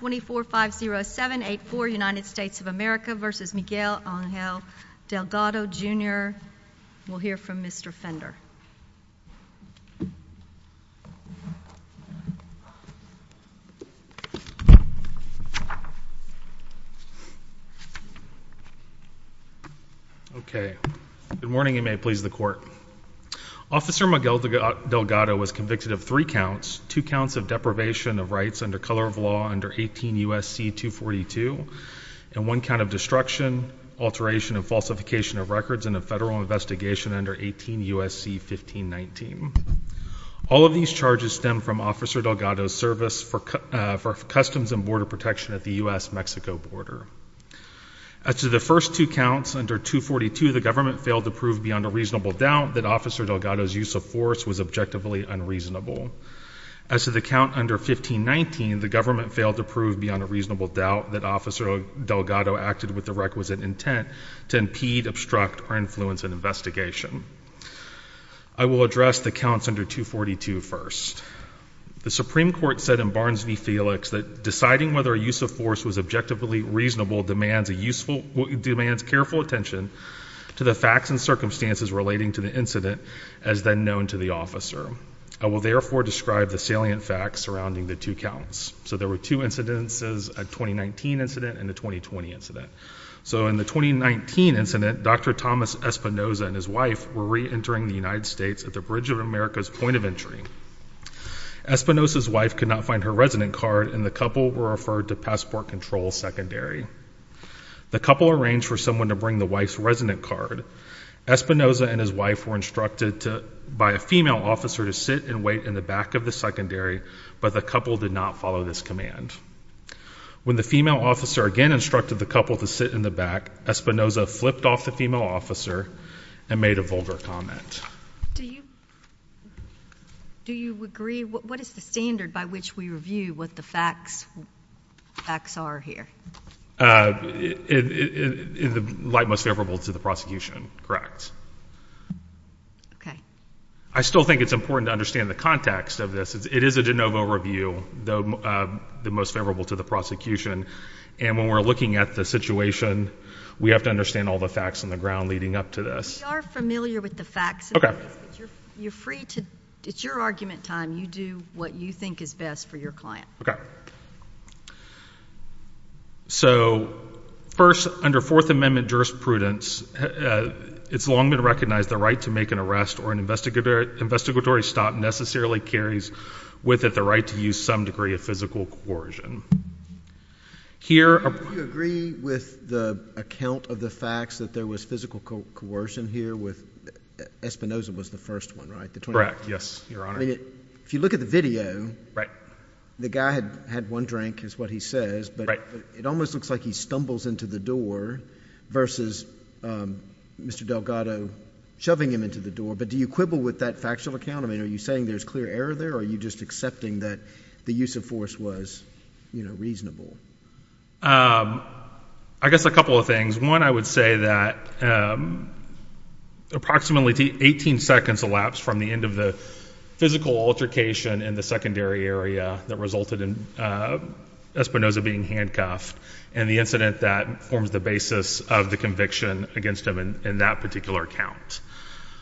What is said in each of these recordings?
24-507-84 United States of America v. Miguel Angel Delgado Jr. We'll hear from Mr. Fender. Okay. Good morning. You may please the court. Officer Miguel Delgado was convicted of three counts of deprivation of rights under color of law under 18 U.S.C. 242 and one count of destruction, alteration, and falsification of records in a federal investigation under 18 U.S.C. 1519. All of these charges stem from Officer Delgado's service for for customs and border protection at the U.S.-Mexico border. As to the first two counts under 242, the government failed to prove beyond a reasonable doubt that Officer Delgado's use of force was objectively unreasonable. As to the count under 1519, the government failed to prove beyond a reasonable doubt that Officer Delgado acted with the requisite intent to impede, obstruct, or influence an investigation. I will address the counts under 242 first. The Supreme Court said in Barnes v. Felix that deciding whether a use of force was objectively reasonable demands a useful, demands careful attention to the facts and circumstances relating to the incident as then known to the officer. I will therefore describe the salient facts surrounding the two counts. So there were two incidences, a 2019 incident and a 2020 incident. So in the 2019 incident, Dr. Thomas Espinosa and his wife were re-entering the United States at the Bridge of America's point of entry. Espinosa's wife could not find her resident card and the couple were referred to passport control secondary. The couple arranged for someone to bring the wife's resident card. Espinosa and his wife were instructed to, by a female officer to sit and wait in the back of the secondary, but the couple did not follow this command. When the female officer again instructed the couple to sit in the back, Espinosa flipped off the female officer and made a vulgar comment. Do you, do you agree, what is the standard by which we review what the facts, facts are here? Uh, in the light most favorable to the prosecution, correct. Okay. I still think it's important to understand the context of this. It is a de novo review, though, uh, the most favorable to the prosecution. And when we're looking at the situation, we have to understand all the facts on the ground leading up to this. We are familiar with the facts. Okay. You're free to, it's your argument time. You do what you think is best for your client. Okay. Okay. So first under fourth amendment jurisprudence, uh, it's long been recognized the right to make an arrest or an investigator, investigatory stop necessarily carries with it, the right to use some degree of physical coercion here. Do you agree with the account of the facts that there was physical coercion here with Espinosa was the first one, right? Correct. Yes, I mean, if you look at the video, right, the guy had, had one drink is what he says, but it almost looks like he stumbles into the door versus, um, Mr. Delgado shoving him into the door. But do you quibble with that factual account? I mean, are you saying there's clear error there or are you just accepting that the use of force was, you know, reasonable? Um, I guess a couple of things. One, I would say that, um, approximately 18 seconds elapsed from the end of the physical altercation in the secondary area that resulted in, uh, Espinosa being handcuffed and the incident that forms the basis of the conviction against him in that particular account.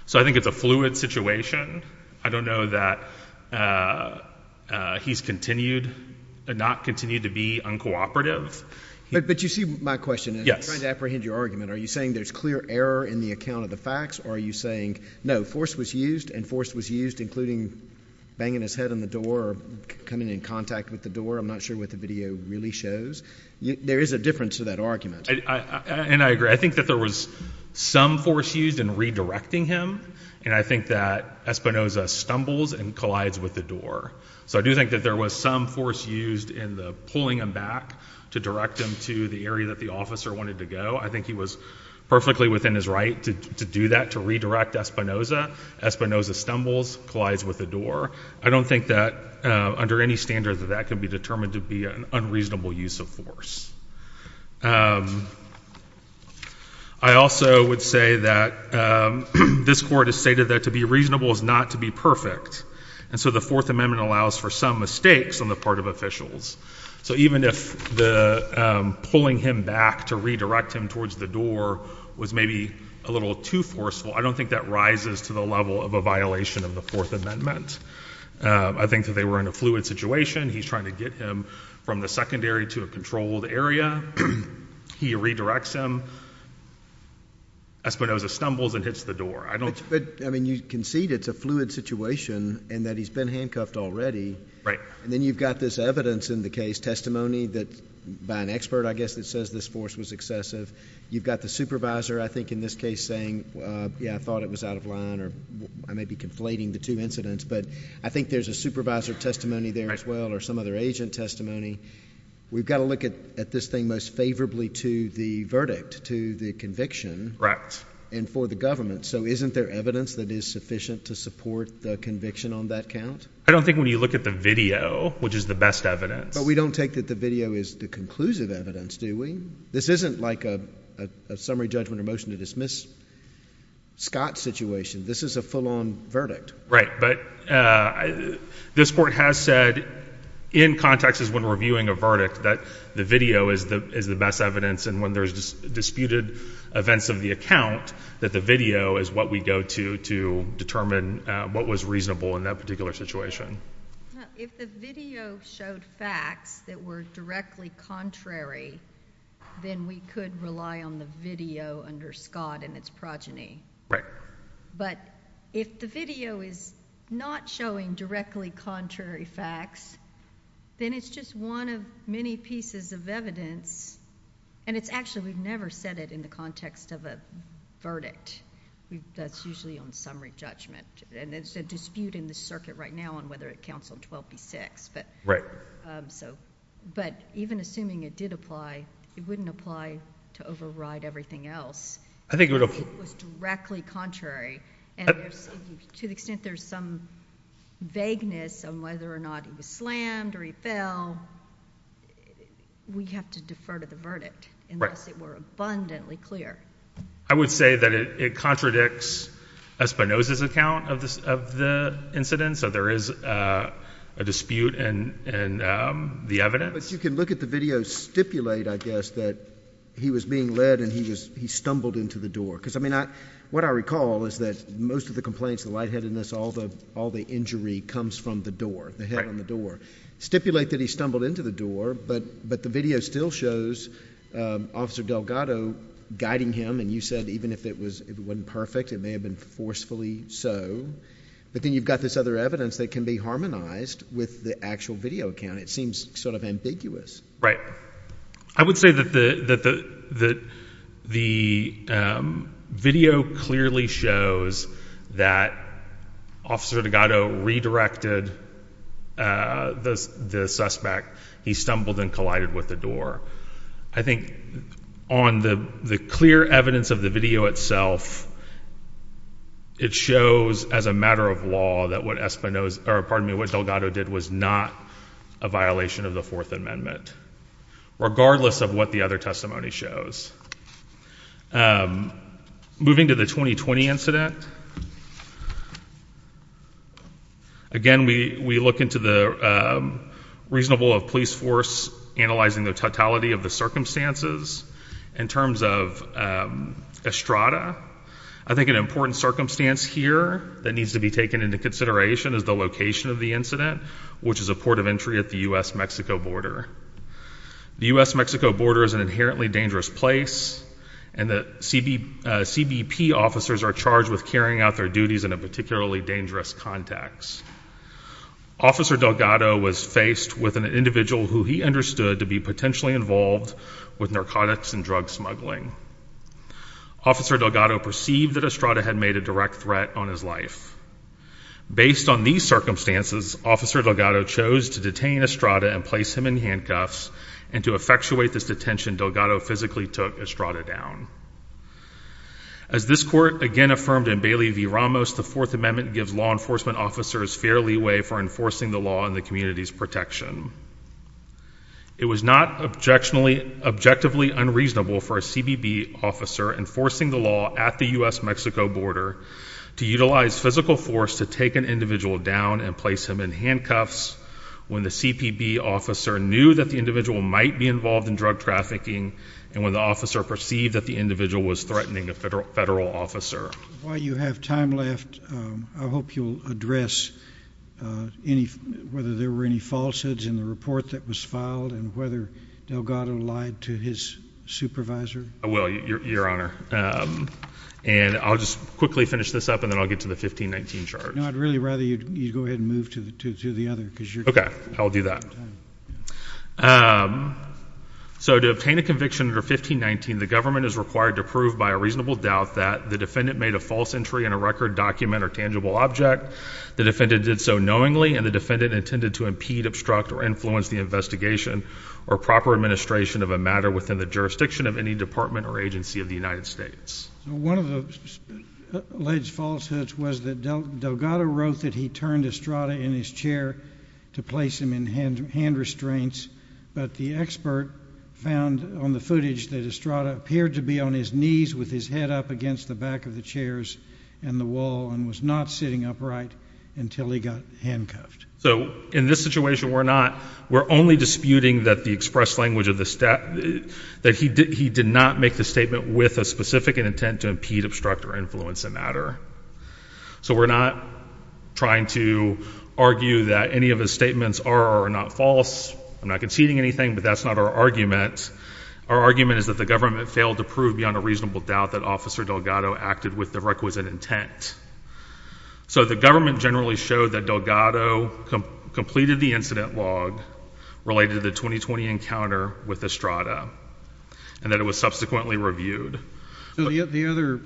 So I think it's a fluid situation. I don't know that, uh, uh, he's continued and not continued to be uncooperative, but you see my question is trying to apprehend your argument. Are you saying there's clear error in the account of the facts or are you saying no force was used and force was used including banging his head on the door or coming in contact with the door? I'm not sure what the video really shows. There is a difference to that argument. And I agree. I think that there was some force used in redirecting him and I think that Espinosa stumbles and collides with the door. So I do think that there was some force used in the pulling him back to direct him to the area that the officer wanted to go. I think he was perfectly within his to do that, to redirect Espinosa. Espinosa stumbles, collides with the door. I don't think that, uh, under any standard that that can be determined to be an unreasonable use of force. I also would say that, um, this court has stated that to be reasonable is not to be perfect. And so the fourth amendment allows for some mistakes on the part of officials. So even if the, um, pulling him back to redirect him towards the door was maybe a little too forceful, I don't think that rises to the level of a violation of the fourth amendment. Um, I think that they were in a fluid situation. He's trying to get him from the secondary to a controlled area. He redirects him. Espinosa stumbles and hits the door. I don't, I mean, you concede it's a fluid situation and that he's been handcuffed already. Right. And then you've got this evidence in the case testimony that by an expert, I guess that says this force was excessive. You've got the supervisor, I think in this case saying, uh, yeah, I thought it was out of line or I may be conflating the two incidents, but I think there's a supervisor testimony there as well, or some other agent testimony. We've got to look at, at this thing most favorably to the verdict, to the conviction and for the government. So isn't there evidence that is sufficient to support the conviction on that count? I don't think when you look at the video, which is the best evidence, but we don't take that the video is the conclusive evidence, do we? This isn't like a, a summary judgment or motion to dismiss Scott situation. This is a full on verdict, right? But, uh, this court has said in context is when we're viewing a verdict that the video is the, is the best evidence. And when there's disputed events of the account that the video is what we go to, to determine, uh, what was reasonable in that particular situation. If the video showed facts that were directly contrary, then we could rely on the video under Scott and its progeny. Right. But if the video is not showing directly contrary facts, then it's just one of many pieces of evidence. And it's actually, we've never said it in the context of a verdict. That's usually on summary judgment and it's a dispute in the circuit right now on whether it counts on 12 B six, but, um, so, but even assuming it did apply, it wouldn't apply to override everything else. I think it was directly contrary to the extent there's some vagueness on whether or not he was slammed or he fell, we have to defer to the verdict unless it were abundantly clear. I would say that it, it contradicts a Spinoza's account of this, of the incident. So there is, uh, a dispute and, and, um, the evidence, you can look at the video stipulate, I guess, that he was being led and he was, he stumbled into the door. Cause I mean, I, what I recall is that most of the complaints, the lightheadedness, all the, all the injury comes from the door, the head on the door, stipulate that he stumbled into the door, but, but the video still shows, um, officer Delgado guiding him. And you said, even if it was, it wasn't perfect, it may have been forcefully so, but then you've got this other evidence that can be harmonized with the actual video account. It seems sort of ambiguous, right? I would say that the, that the, that the, um, video clearly shows that officer Delgado redirected, uh, the, the suspect he stumbled and collided with the door. I think on the, the clear evidence of the video itself, it shows as a matter of law that what Espinosa or pardon me, what Delgado did was not a violation of the fourth amendment, regardless of what the other testimony shows. Um, moving to the 2020 incident. Again, we, we look into the, um, reasonable of police force analyzing the totality of the circumstances in terms of, um, Estrada. I think an important circumstance here that needs to be taken into consideration is the location of the incident, which is a port of entry at the U.S.-Mexico border. The U.S.-Mexico border is an inherently dangerous place and the CB, uh, CBP officers are charged with carrying out their duties in a particularly dangerous context. Officer Delgado was faced with an individual who he understood to be potentially involved with narcotics and drug smuggling. Officer Delgado perceived that Officer Delgado chose to detain Estrada and place him in handcuffs and to effectuate this detention, Delgado physically took Estrada down. As this court again affirmed in Bailey v. Ramos, the fourth amendment gives law enforcement officers fair leeway for enforcing the law and the community's protection. It was not objectionably, objectively unreasonable for a CBP officer enforcing the law at the U.S.-Mexico border to utilize physical force to take an down and place him in handcuffs when the CBP officer knew that the individual might be involved in drug trafficking. And when the officer perceived that the individual was threatening a federal federal officer while you have time left, I hope you'll address, uh, any, whether there were any falsehoods in the report that was filed and whether Delgado lied to his supervisor. I will your honor. Um, and I'll just quickly finish this up and then I'll get to the 1519 charge. No, I'd really rather you go ahead and move to the, to, to the other. Okay. I'll do that. Um, so to obtain a conviction under 1519, the government is required to prove by a reasonable doubt that the defendant made a false entry in a record document or tangible object. The defendant did so knowingly and the defendant intended to impede, obstruct, or influence the investigation or proper administration of a matter within the jurisdiction of any department or agency of the United States. One of the alleged falsehoods was that Delgado wrote that he turned Estrada in his chair to place him in hand, hand restraints. But the expert found on the footage that Estrada appeared to be on his knees with his head up against the back of the chairs and the wall and was not sitting upright until he got handcuffed. So in this situation, we're not, we're only disputing that the express language of the step that he did, he did not make the statement with a specific intent to impede, obstruct, or influence a matter. So we're not trying to argue that any of his statements are or are not false. I'm not conceding anything, but that's not our argument. Our argument is that the government failed to prove beyond a reasonable doubt that Officer Delgado acted with the requisite intent. So the government generally showed that Delgado completed the incident log related to the 2020 encounter with Estrada and that it was subsequently reviewed. The other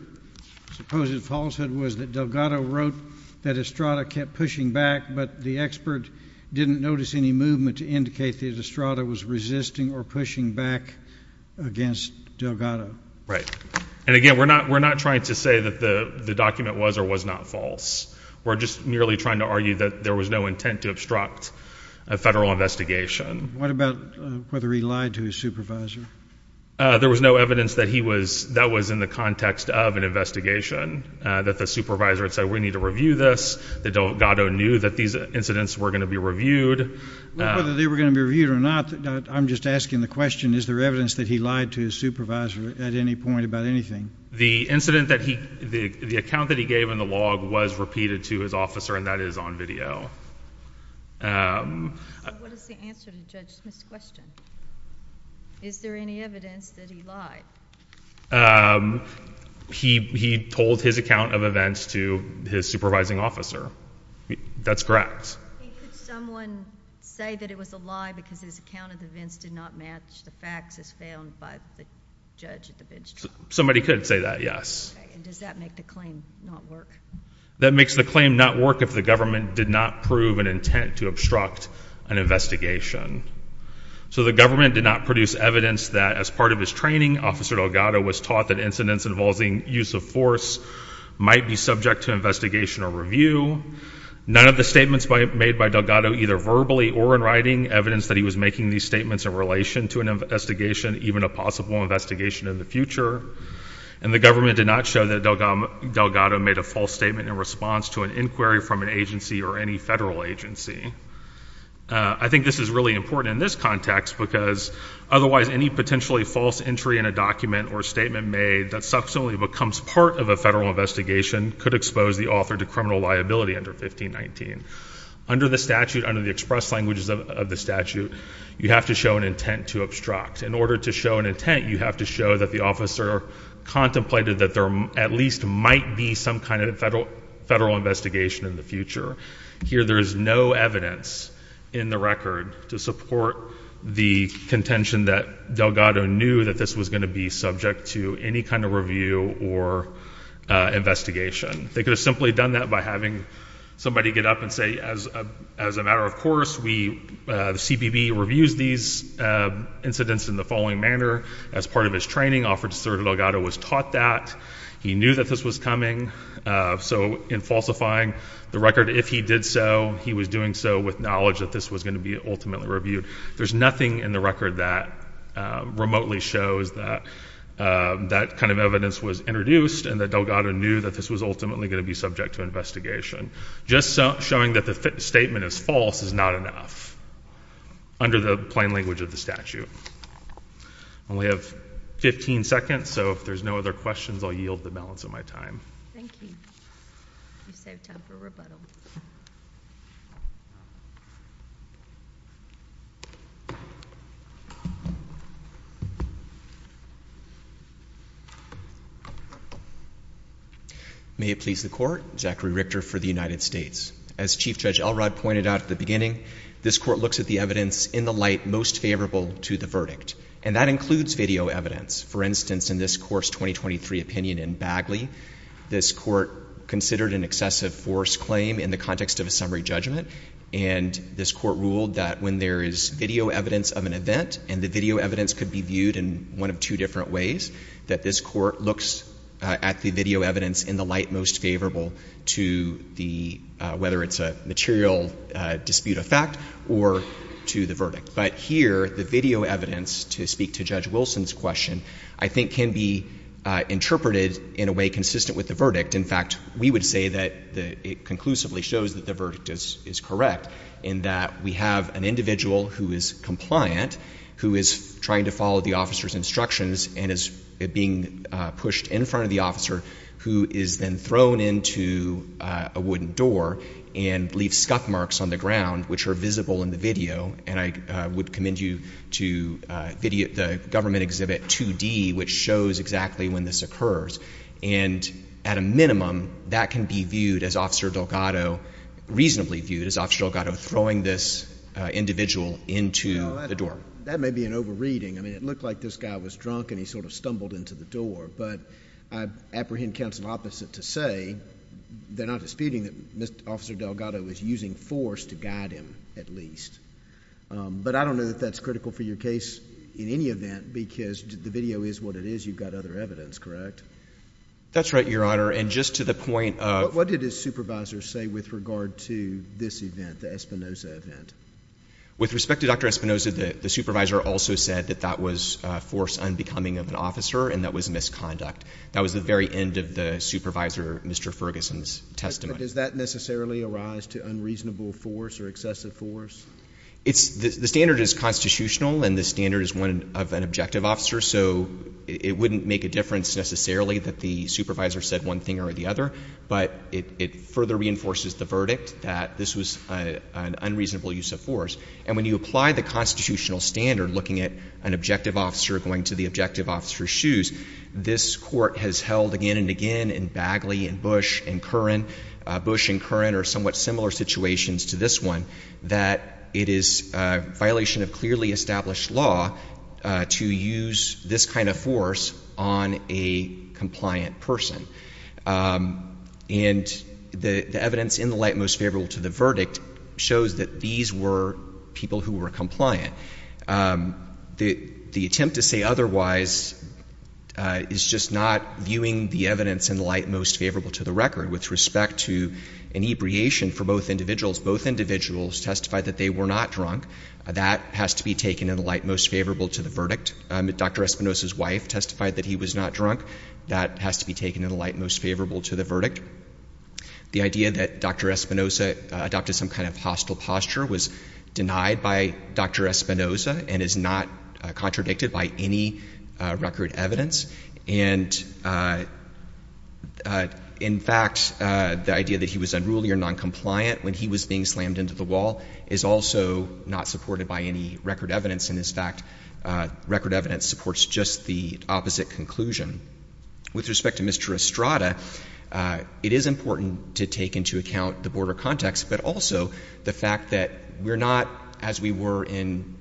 supposed falsehood was that Delgado wrote that Estrada kept pushing back, but the expert didn't notice any movement to indicate that Estrada was resisting or pushing back against Delgado. Right. And again, we're not, we're not trying to say that the document was or was not false. We're just merely trying to argue that there was no intent to obstruct a federal investigation. What about whether he lied to his supervisor? There was no evidence that he was, that was in the context of an investigation, that the supervisor had said, we need to review this, that Delgado knew that these incidents were going to be reviewed. Whether they were going to be reviewed or not, I'm just asking the question, is there evidence that he lied to his supervisor at any point about anything? The incident that he, the account that he gave in the log was repeated to his officer and that is on video. So what is the answer to Judge Smith's question? Is there any evidence that he lied? He, he told his account of events to his supervising officer. That's correct. Could someone say that it was a lie because his account of events did not match the facts as found by the judge at the bench trial? Somebody could say that, yes. And does that make the claim not work? That makes the claim not work if the government did not prove an intent to obstruct an investigation. So the government did not produce evidence that as part of his training, Officer Delgado was taught that incidents involving use of force might be subject to investigation or review. None of the statements made by Delgado, either verbally or in writing, evidence that he was making these statements in relation to an investigation, even a possible investigation in the future. And the government did not show that Delgado made a false statement in response to an inquiry from an agency or any federal agency. I think this is really important in this context because otherwise any potentially false entry in a document or statement made that subsequently becomes part of a federal investigation could expose the author to criminal liability under 1519. Under the statute, under the express languages of the statute, you have to show an intent to obstruct. In order to show an intent, you have to show that the officer contemplated that there at least might be some kind of federal investigation in the future. Here there is no evidence in the record to support the contention that Delgado knew that this was going to be subject to any kind of review or investigation. They could have simply done that by having somebody get up and say, as a matter of course, the CBB reviews these incidents in the following manner. As part of his training, Officer Delgado was taught that. He knew that this was coming. So in falsifying the record, if he did so, he was doing so with knowledge that this was going to be ultimately reviewed. There's nothing in the record that remotely shows that that kind of evidence was introduced and that Delgado knew that this was ultimately going to be subject to investigation. Just showing that the statement is false is not enough under the plain language of the statute. I only have 15 seconds, so if there's no other questions, I'll yield the balance of my time. Thank you. You saved time for rebuttal. May it please the Court. Zachary Richter for the United States. As Chief Judge Elrod pointed out at the beginning, this Court looks at the evidence in the light most favorable to the verdict, and that includes video evidence. For instance, in this course 2023 opinion in Bagley, this Court considered an excessive force claim in the context of a summary judgment, and this Court ruled that when there is video evidence of an event, and the video evidence could be viewed in one of two different ways, that this Court looks at the video evidence in the light most favorable to the, whether it's a material dispute of fact or to the verdict. But here, the video evidence, to speak to Judge Wilson's question, I think can be interpreted in a way consistent with the verdict. In fact, we would say that it conclusively shows that the evidence is correct, in that we have an individual who is compliant, who is trying to follow the officer's instructions, and is being pushed in front of the officer, who is then thrown into a wooden door and leaves scuff marks on the ground, which are visible in the video. And I would commend you to the government exhibit 2D, which shows exactly when this occurs. And at a minimum, that can be viewed as Officer Delgado, reasonably viewed as Officer Delgado, throwing this individual into the door. That may be an overreading. I mean, it looked like this guy was drunk and he sort of stumbled into the door. But I apprehend counsel opposite to say they're not disputing that Officer Delgado is using force to guide him, at least. But I don't know that that's critical for your case in any event, because the video is what it is. You've other evidence, correct? That's right, Your Honor. And just to the point of... What did his supervisor say with regard to this event, the Espinoza event? With respect to Dr. Espinoza, the supervisor also said that that was force unbecoming of an officer and that was misconduct. That was the very end of the supervisor, Mr. Ferguson's testimony. Does that necessarily arise to unreasonable force or excessive force? The standard is constitutional, and the standard is one of an objective officer. So it wouldn't make a difference necessarily that the supervisor said one thing or the other, but it further reinforces the verdict that this was an unreasonable use of force. And when you apply the constitutional standard, looking at an objective officer going to the objective officer's shoes, this Court has held again and again in Bagley and Bush and Curran, Bush and Curran are somewhat similar situations to this one, that it is a violation of clearly established law to use this kind of force on a compliant person. And the evidence in the light most favorable to the verdict shows that these were people who were compliant. The attempt to say otherwise is just not viewing the evidence in the light most favorable to the record. With respect to an ebriation for both individuals, both individuals testified that they were not drunk. That has to be taken in the light most favorable to the verdict. Dr. Espinosa's wife testified that he was not drunk. That has to be taken in the light most favorable to the verdict. The idea that Dr. Espinosa adopted some kind of hostile posture was denied by Dr. Espinosa and is not contradicted by any record evidence. And in fact, the idea that he was unruly or noncompliant when he was being slammed into the wall is also not supported by any record evidence. And in fact, record evidence supports just the opposite conclusion. With respect to Mr. Estrada, it is important to take into account the border context, but also the fact that we're not, as we were in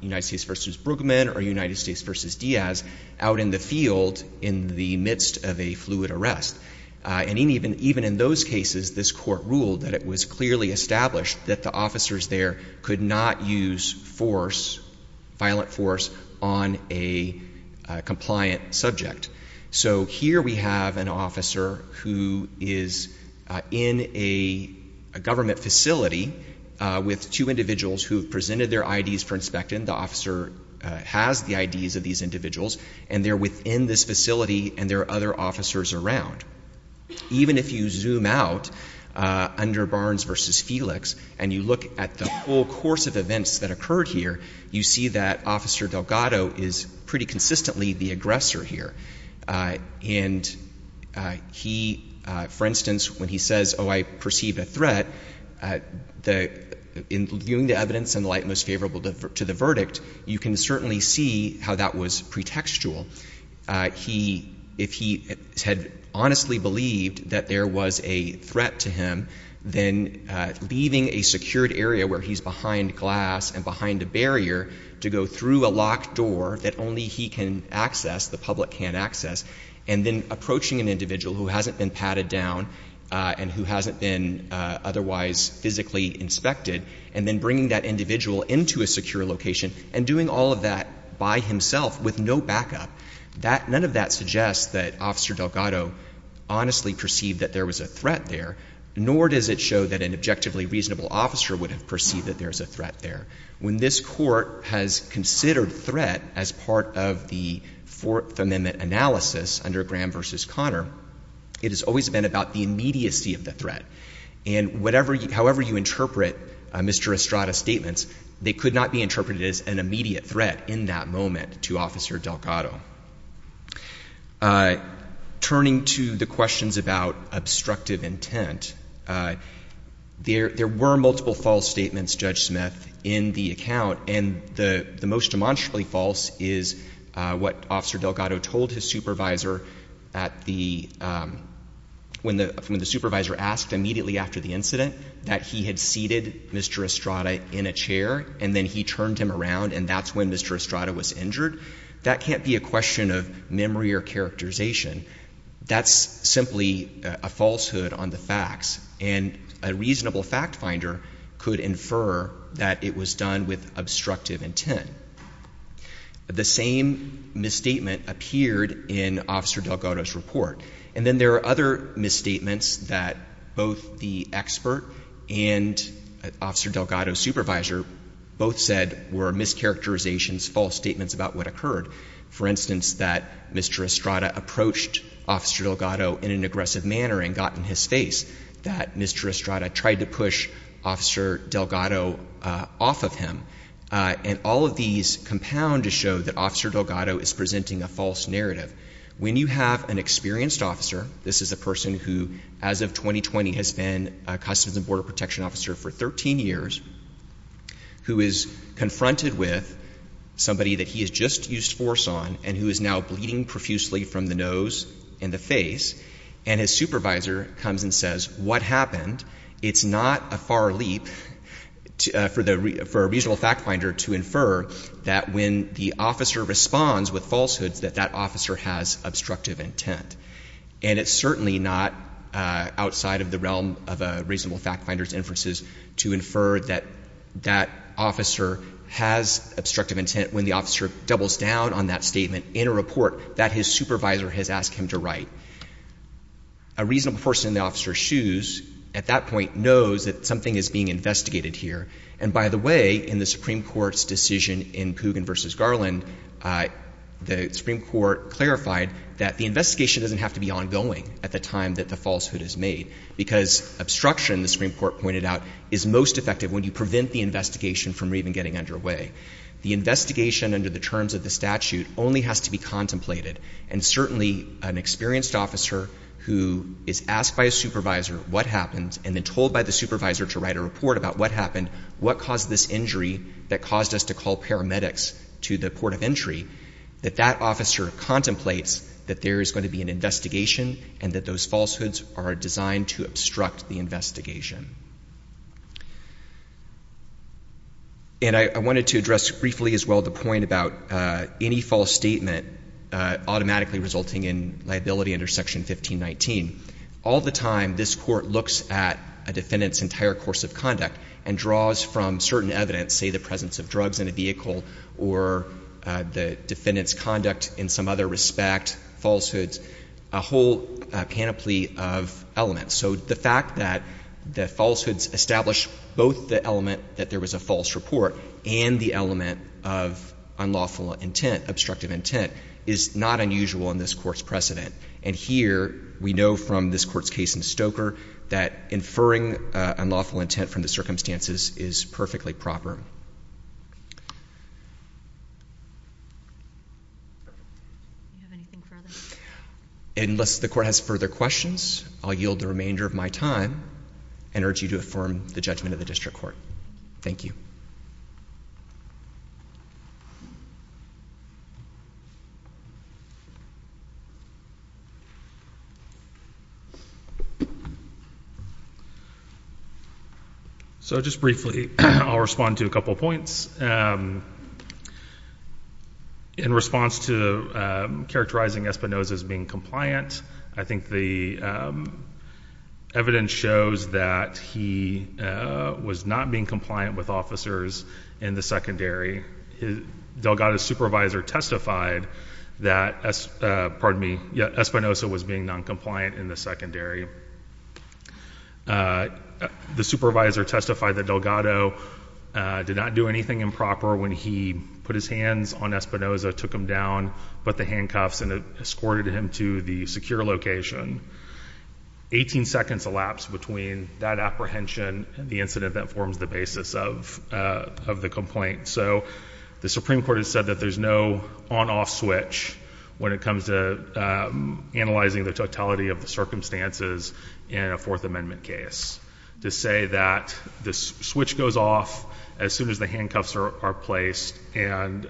United States v. Brooklyn or United States v. Diaz, out in the field in the midst of a fluid arrest. And even in those cases, this court ruled that it was clearly established that the officers there could not use force, violent force, on a compliant subject. So here we have an officer who is in a government facility with two individuals who have presented their IDs for inspection. The officer has the IDs of these individuals, and they're within this facility, and there are other officers around. Even if you zoom out under Barnes v. Felix and you look at the whole course of events that occurred here, you see that Officer Delgado is pretty consistently the aggressor here. And he, for instance, when he says, oh, I perceive a threat, in viewing the evidence in light most favorable to the verdict, you can certainly see how that was pretextual. He, if he had honestly believed that there was a threat to him, then leaving a secured area where he's behind glass and behind a barrier to go through a locked door that only he can access, the public can't access, and then approaching an individual who hasn't been patted down and who hasn't been otherwise physically inspected, and then bringing that individual into a secure location and doing all of that by himself with no backup, none of that suggests that Officer Delgado honestly perceived that there was a threat there, nor does it show that an objectively reasonable officer would have perceived that there is a threat there. When this Court has considered threat as part of the Fourth Amendment analysis under Graham v. Connor, it has always been about the immediacy of the threat. And however you interpret Mr. Estrada's statement, they could not be interpreted as an immediate threat in that moment to Officer Delgado. Turning to the questions about obstructive intent, there were multiple false statements, Judge Smith, in the account, and the most demonstrably false is what Officer Delgado told his supervisor at the, when the supervisor asked immediately after the incident that he had seated Mr. Estrada in a chair, and then he turned him around, and that's when Mr. Estrada was injured. That can't be a question of memory or characterization. That's simply a falsehood on the facts, and a reasonable fact finder could infer that it was done with obstructive intent. The same misstatement appeared in Officer Delgado's report. And then there are other misstatements that both the expert and Officer Delgado's supervisor both said were mischaracterizations, false statements about what occurred. For instance, that Mr. Estrada approached Officer Delgado in an aggressive manner and got in his face, that Mr. Estrada tried to push Officer Delgado off of him. And all of these compound to show that Officer Delgado is presenting a false narrative. When you have an experienced officer, this is a person who, as of 2020, has been a Customs and Border Protection officer for 13 years, who is confronted with somebody that he has just used force on and who is now bleeding profusely from the nose and the face, and his supervisor comes and says, what happened, it's not a far to infer that when the officer responds with falsehoods that that officer has obstructive intent. And it's certainly not outside of the realm of a reasonable fact finder's inferences to infer that that officer has obstructive intent when the officer doubles down on that statement in a report that his supervisor has asked him to write. A reasonable person in the officer's shoes at that point knows that something is being investigated here. And by the way, in the Supreme Court's decision in Pugin v. Garland, the Supreme Court clarified that the investigation doesn't have to be ongoing at the time that the falsehood is made, because obstruction, the Supreme Court pointed out, is most effective when you prevent the investigation from even getting underway. The investigation under the terms of the statute only has to be contemplated. And certainly an experienced officer who is asked by a supervisor what happened and told by the supervisor to write a report about what happened, what caused this injury that caused us to call paramedics to the port of entry, that that officer contemplates that there is going to be an investigation and that those falsehoods are designed to obstruct the investigation. And I wanted to address briefly as well the point about any false statement automatically resulting in liability under Section 1519. All the time, this Court looks at a defendant's entire course of conduct and draws from certain evidence, say the presence of drugs in a vehicle or the defendant's conduct in some other respect, falsehoods, a whole panoply of elements. So the fact that the falsehoods establish both the element that there was a false report and the element of unlawful intent, obstructive intent, is not unusual in this Court's precedent. And here we know from this Court's case in Stoker that inferring unlawful intent from the circumstances is perfectly proper. Unless the Court has further questions, I'll yield the remainder of my time and urge you to affirm the judgment of the District Court. Thank you. So just briefly, I'll respond to a couple points. In response to characterizing Espinoza as being compliant, I think the evidence shows that he was not being compliant with officers in the secondary. Delgado's supervisor testified that Espinoza was being non-compliant in the secondary. The supervisor testified that Delgado did not do anything improper when he put his hands on Espinoza, took him down, put the handcuffs, and escorted him to the secure location. 18 seconds elapsed between that apprehension and the incident that forms the basis of the complaint. So the Supreme Court has said that there's no on-off switch when it comes to analyzing the totality of the circumstances in a Fourth Amendment case, to say that the switch goes off as soon as the handcuffs are placed and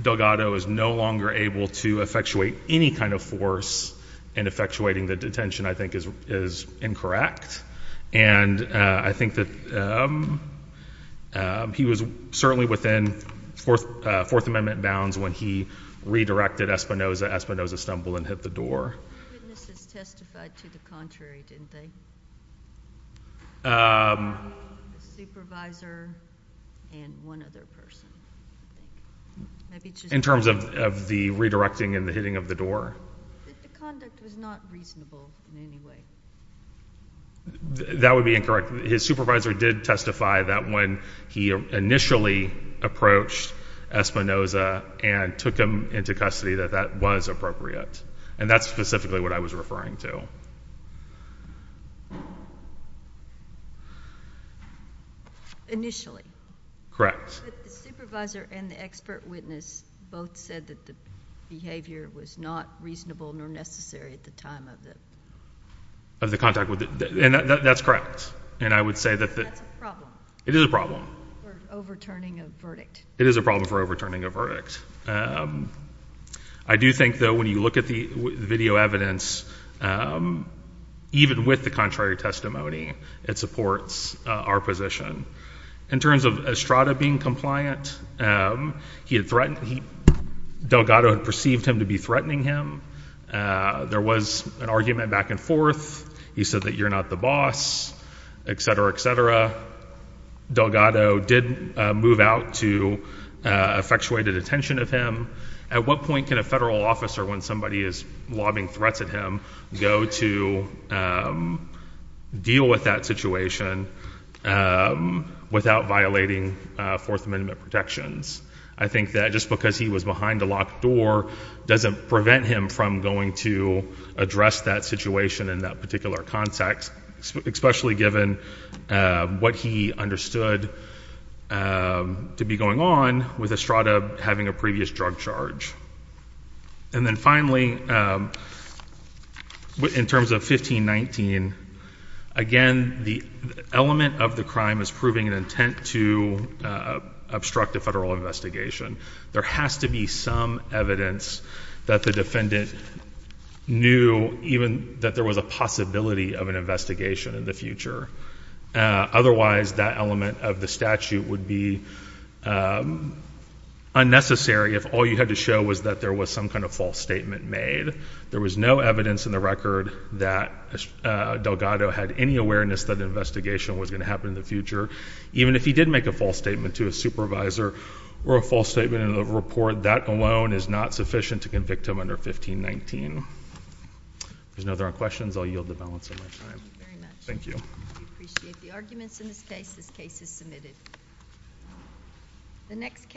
Delgado is no longer able to effectuate any kind of force and effectuating the detention, I think, is incorrect. And I think that he was certainly within Fourth Amendment bounds when he redirected Espinoza. Espinoza stumbled and hit the door. Witnesses testified to the contrary, didn't they? The supervisor and one other person. In terms of the redirecting and the hitting of the door. But the conduct was not reasonable in any way. That would be incorrect. His supervisor did testify that when he initially approached Espinoza and took him into custody, that that was appropriate. And that's specifically what I was referring to. Initially. Correct. But the supervisor and the expert witness both said that the behavior was not reasonable nor necessary at the time of the. Of the contact with. And that's correct. And I would say that. That's a problem. It is a problem. For overturning a verdict. It is a problem for overturning a verdict. I do think, though, when you look at the video evidence, um, even with the contrary testimony, it supports our position. In terms of Estrada being compliant, um, he had threatened, Delgado had perceived him to be threatening him. There was an argument back and forth. He said that you're not the boss, et cetera, et cetera. Delgado did move out to effectuated attention of him. At what point can a federal officer, when somebody is lobbying threats at him, go to deal with that situation without violating Fourth Amendment protections? I think that just because he was behind a locked door doesn't prevent him from going to address that situation in that particular context, especially given what he understood um, to be going on with Estrada having a previous drug charge. And then finally, um, in terms of 1519, again, the element of the crime is proving an intent to obstruct a federal investigation. There has to be some evidence that the defendant knew even that there was a possibility of an investigation in the future. Otherwise, that element of the statute would be, um, unnecessary if all you had to show was that there was some kind of false statement made. There was no evidence in the record that Delgado had any awareness that an investigation was going to happen in the future. Even if he did make a false statement to a supervisor or a false statement in a report, that alone is not sufficient to convict him under 1519. If there's no other questions, I'll yield the balance of my time. Thank you very much. We appreciate the arguments in this case. This case is submitted. The next case.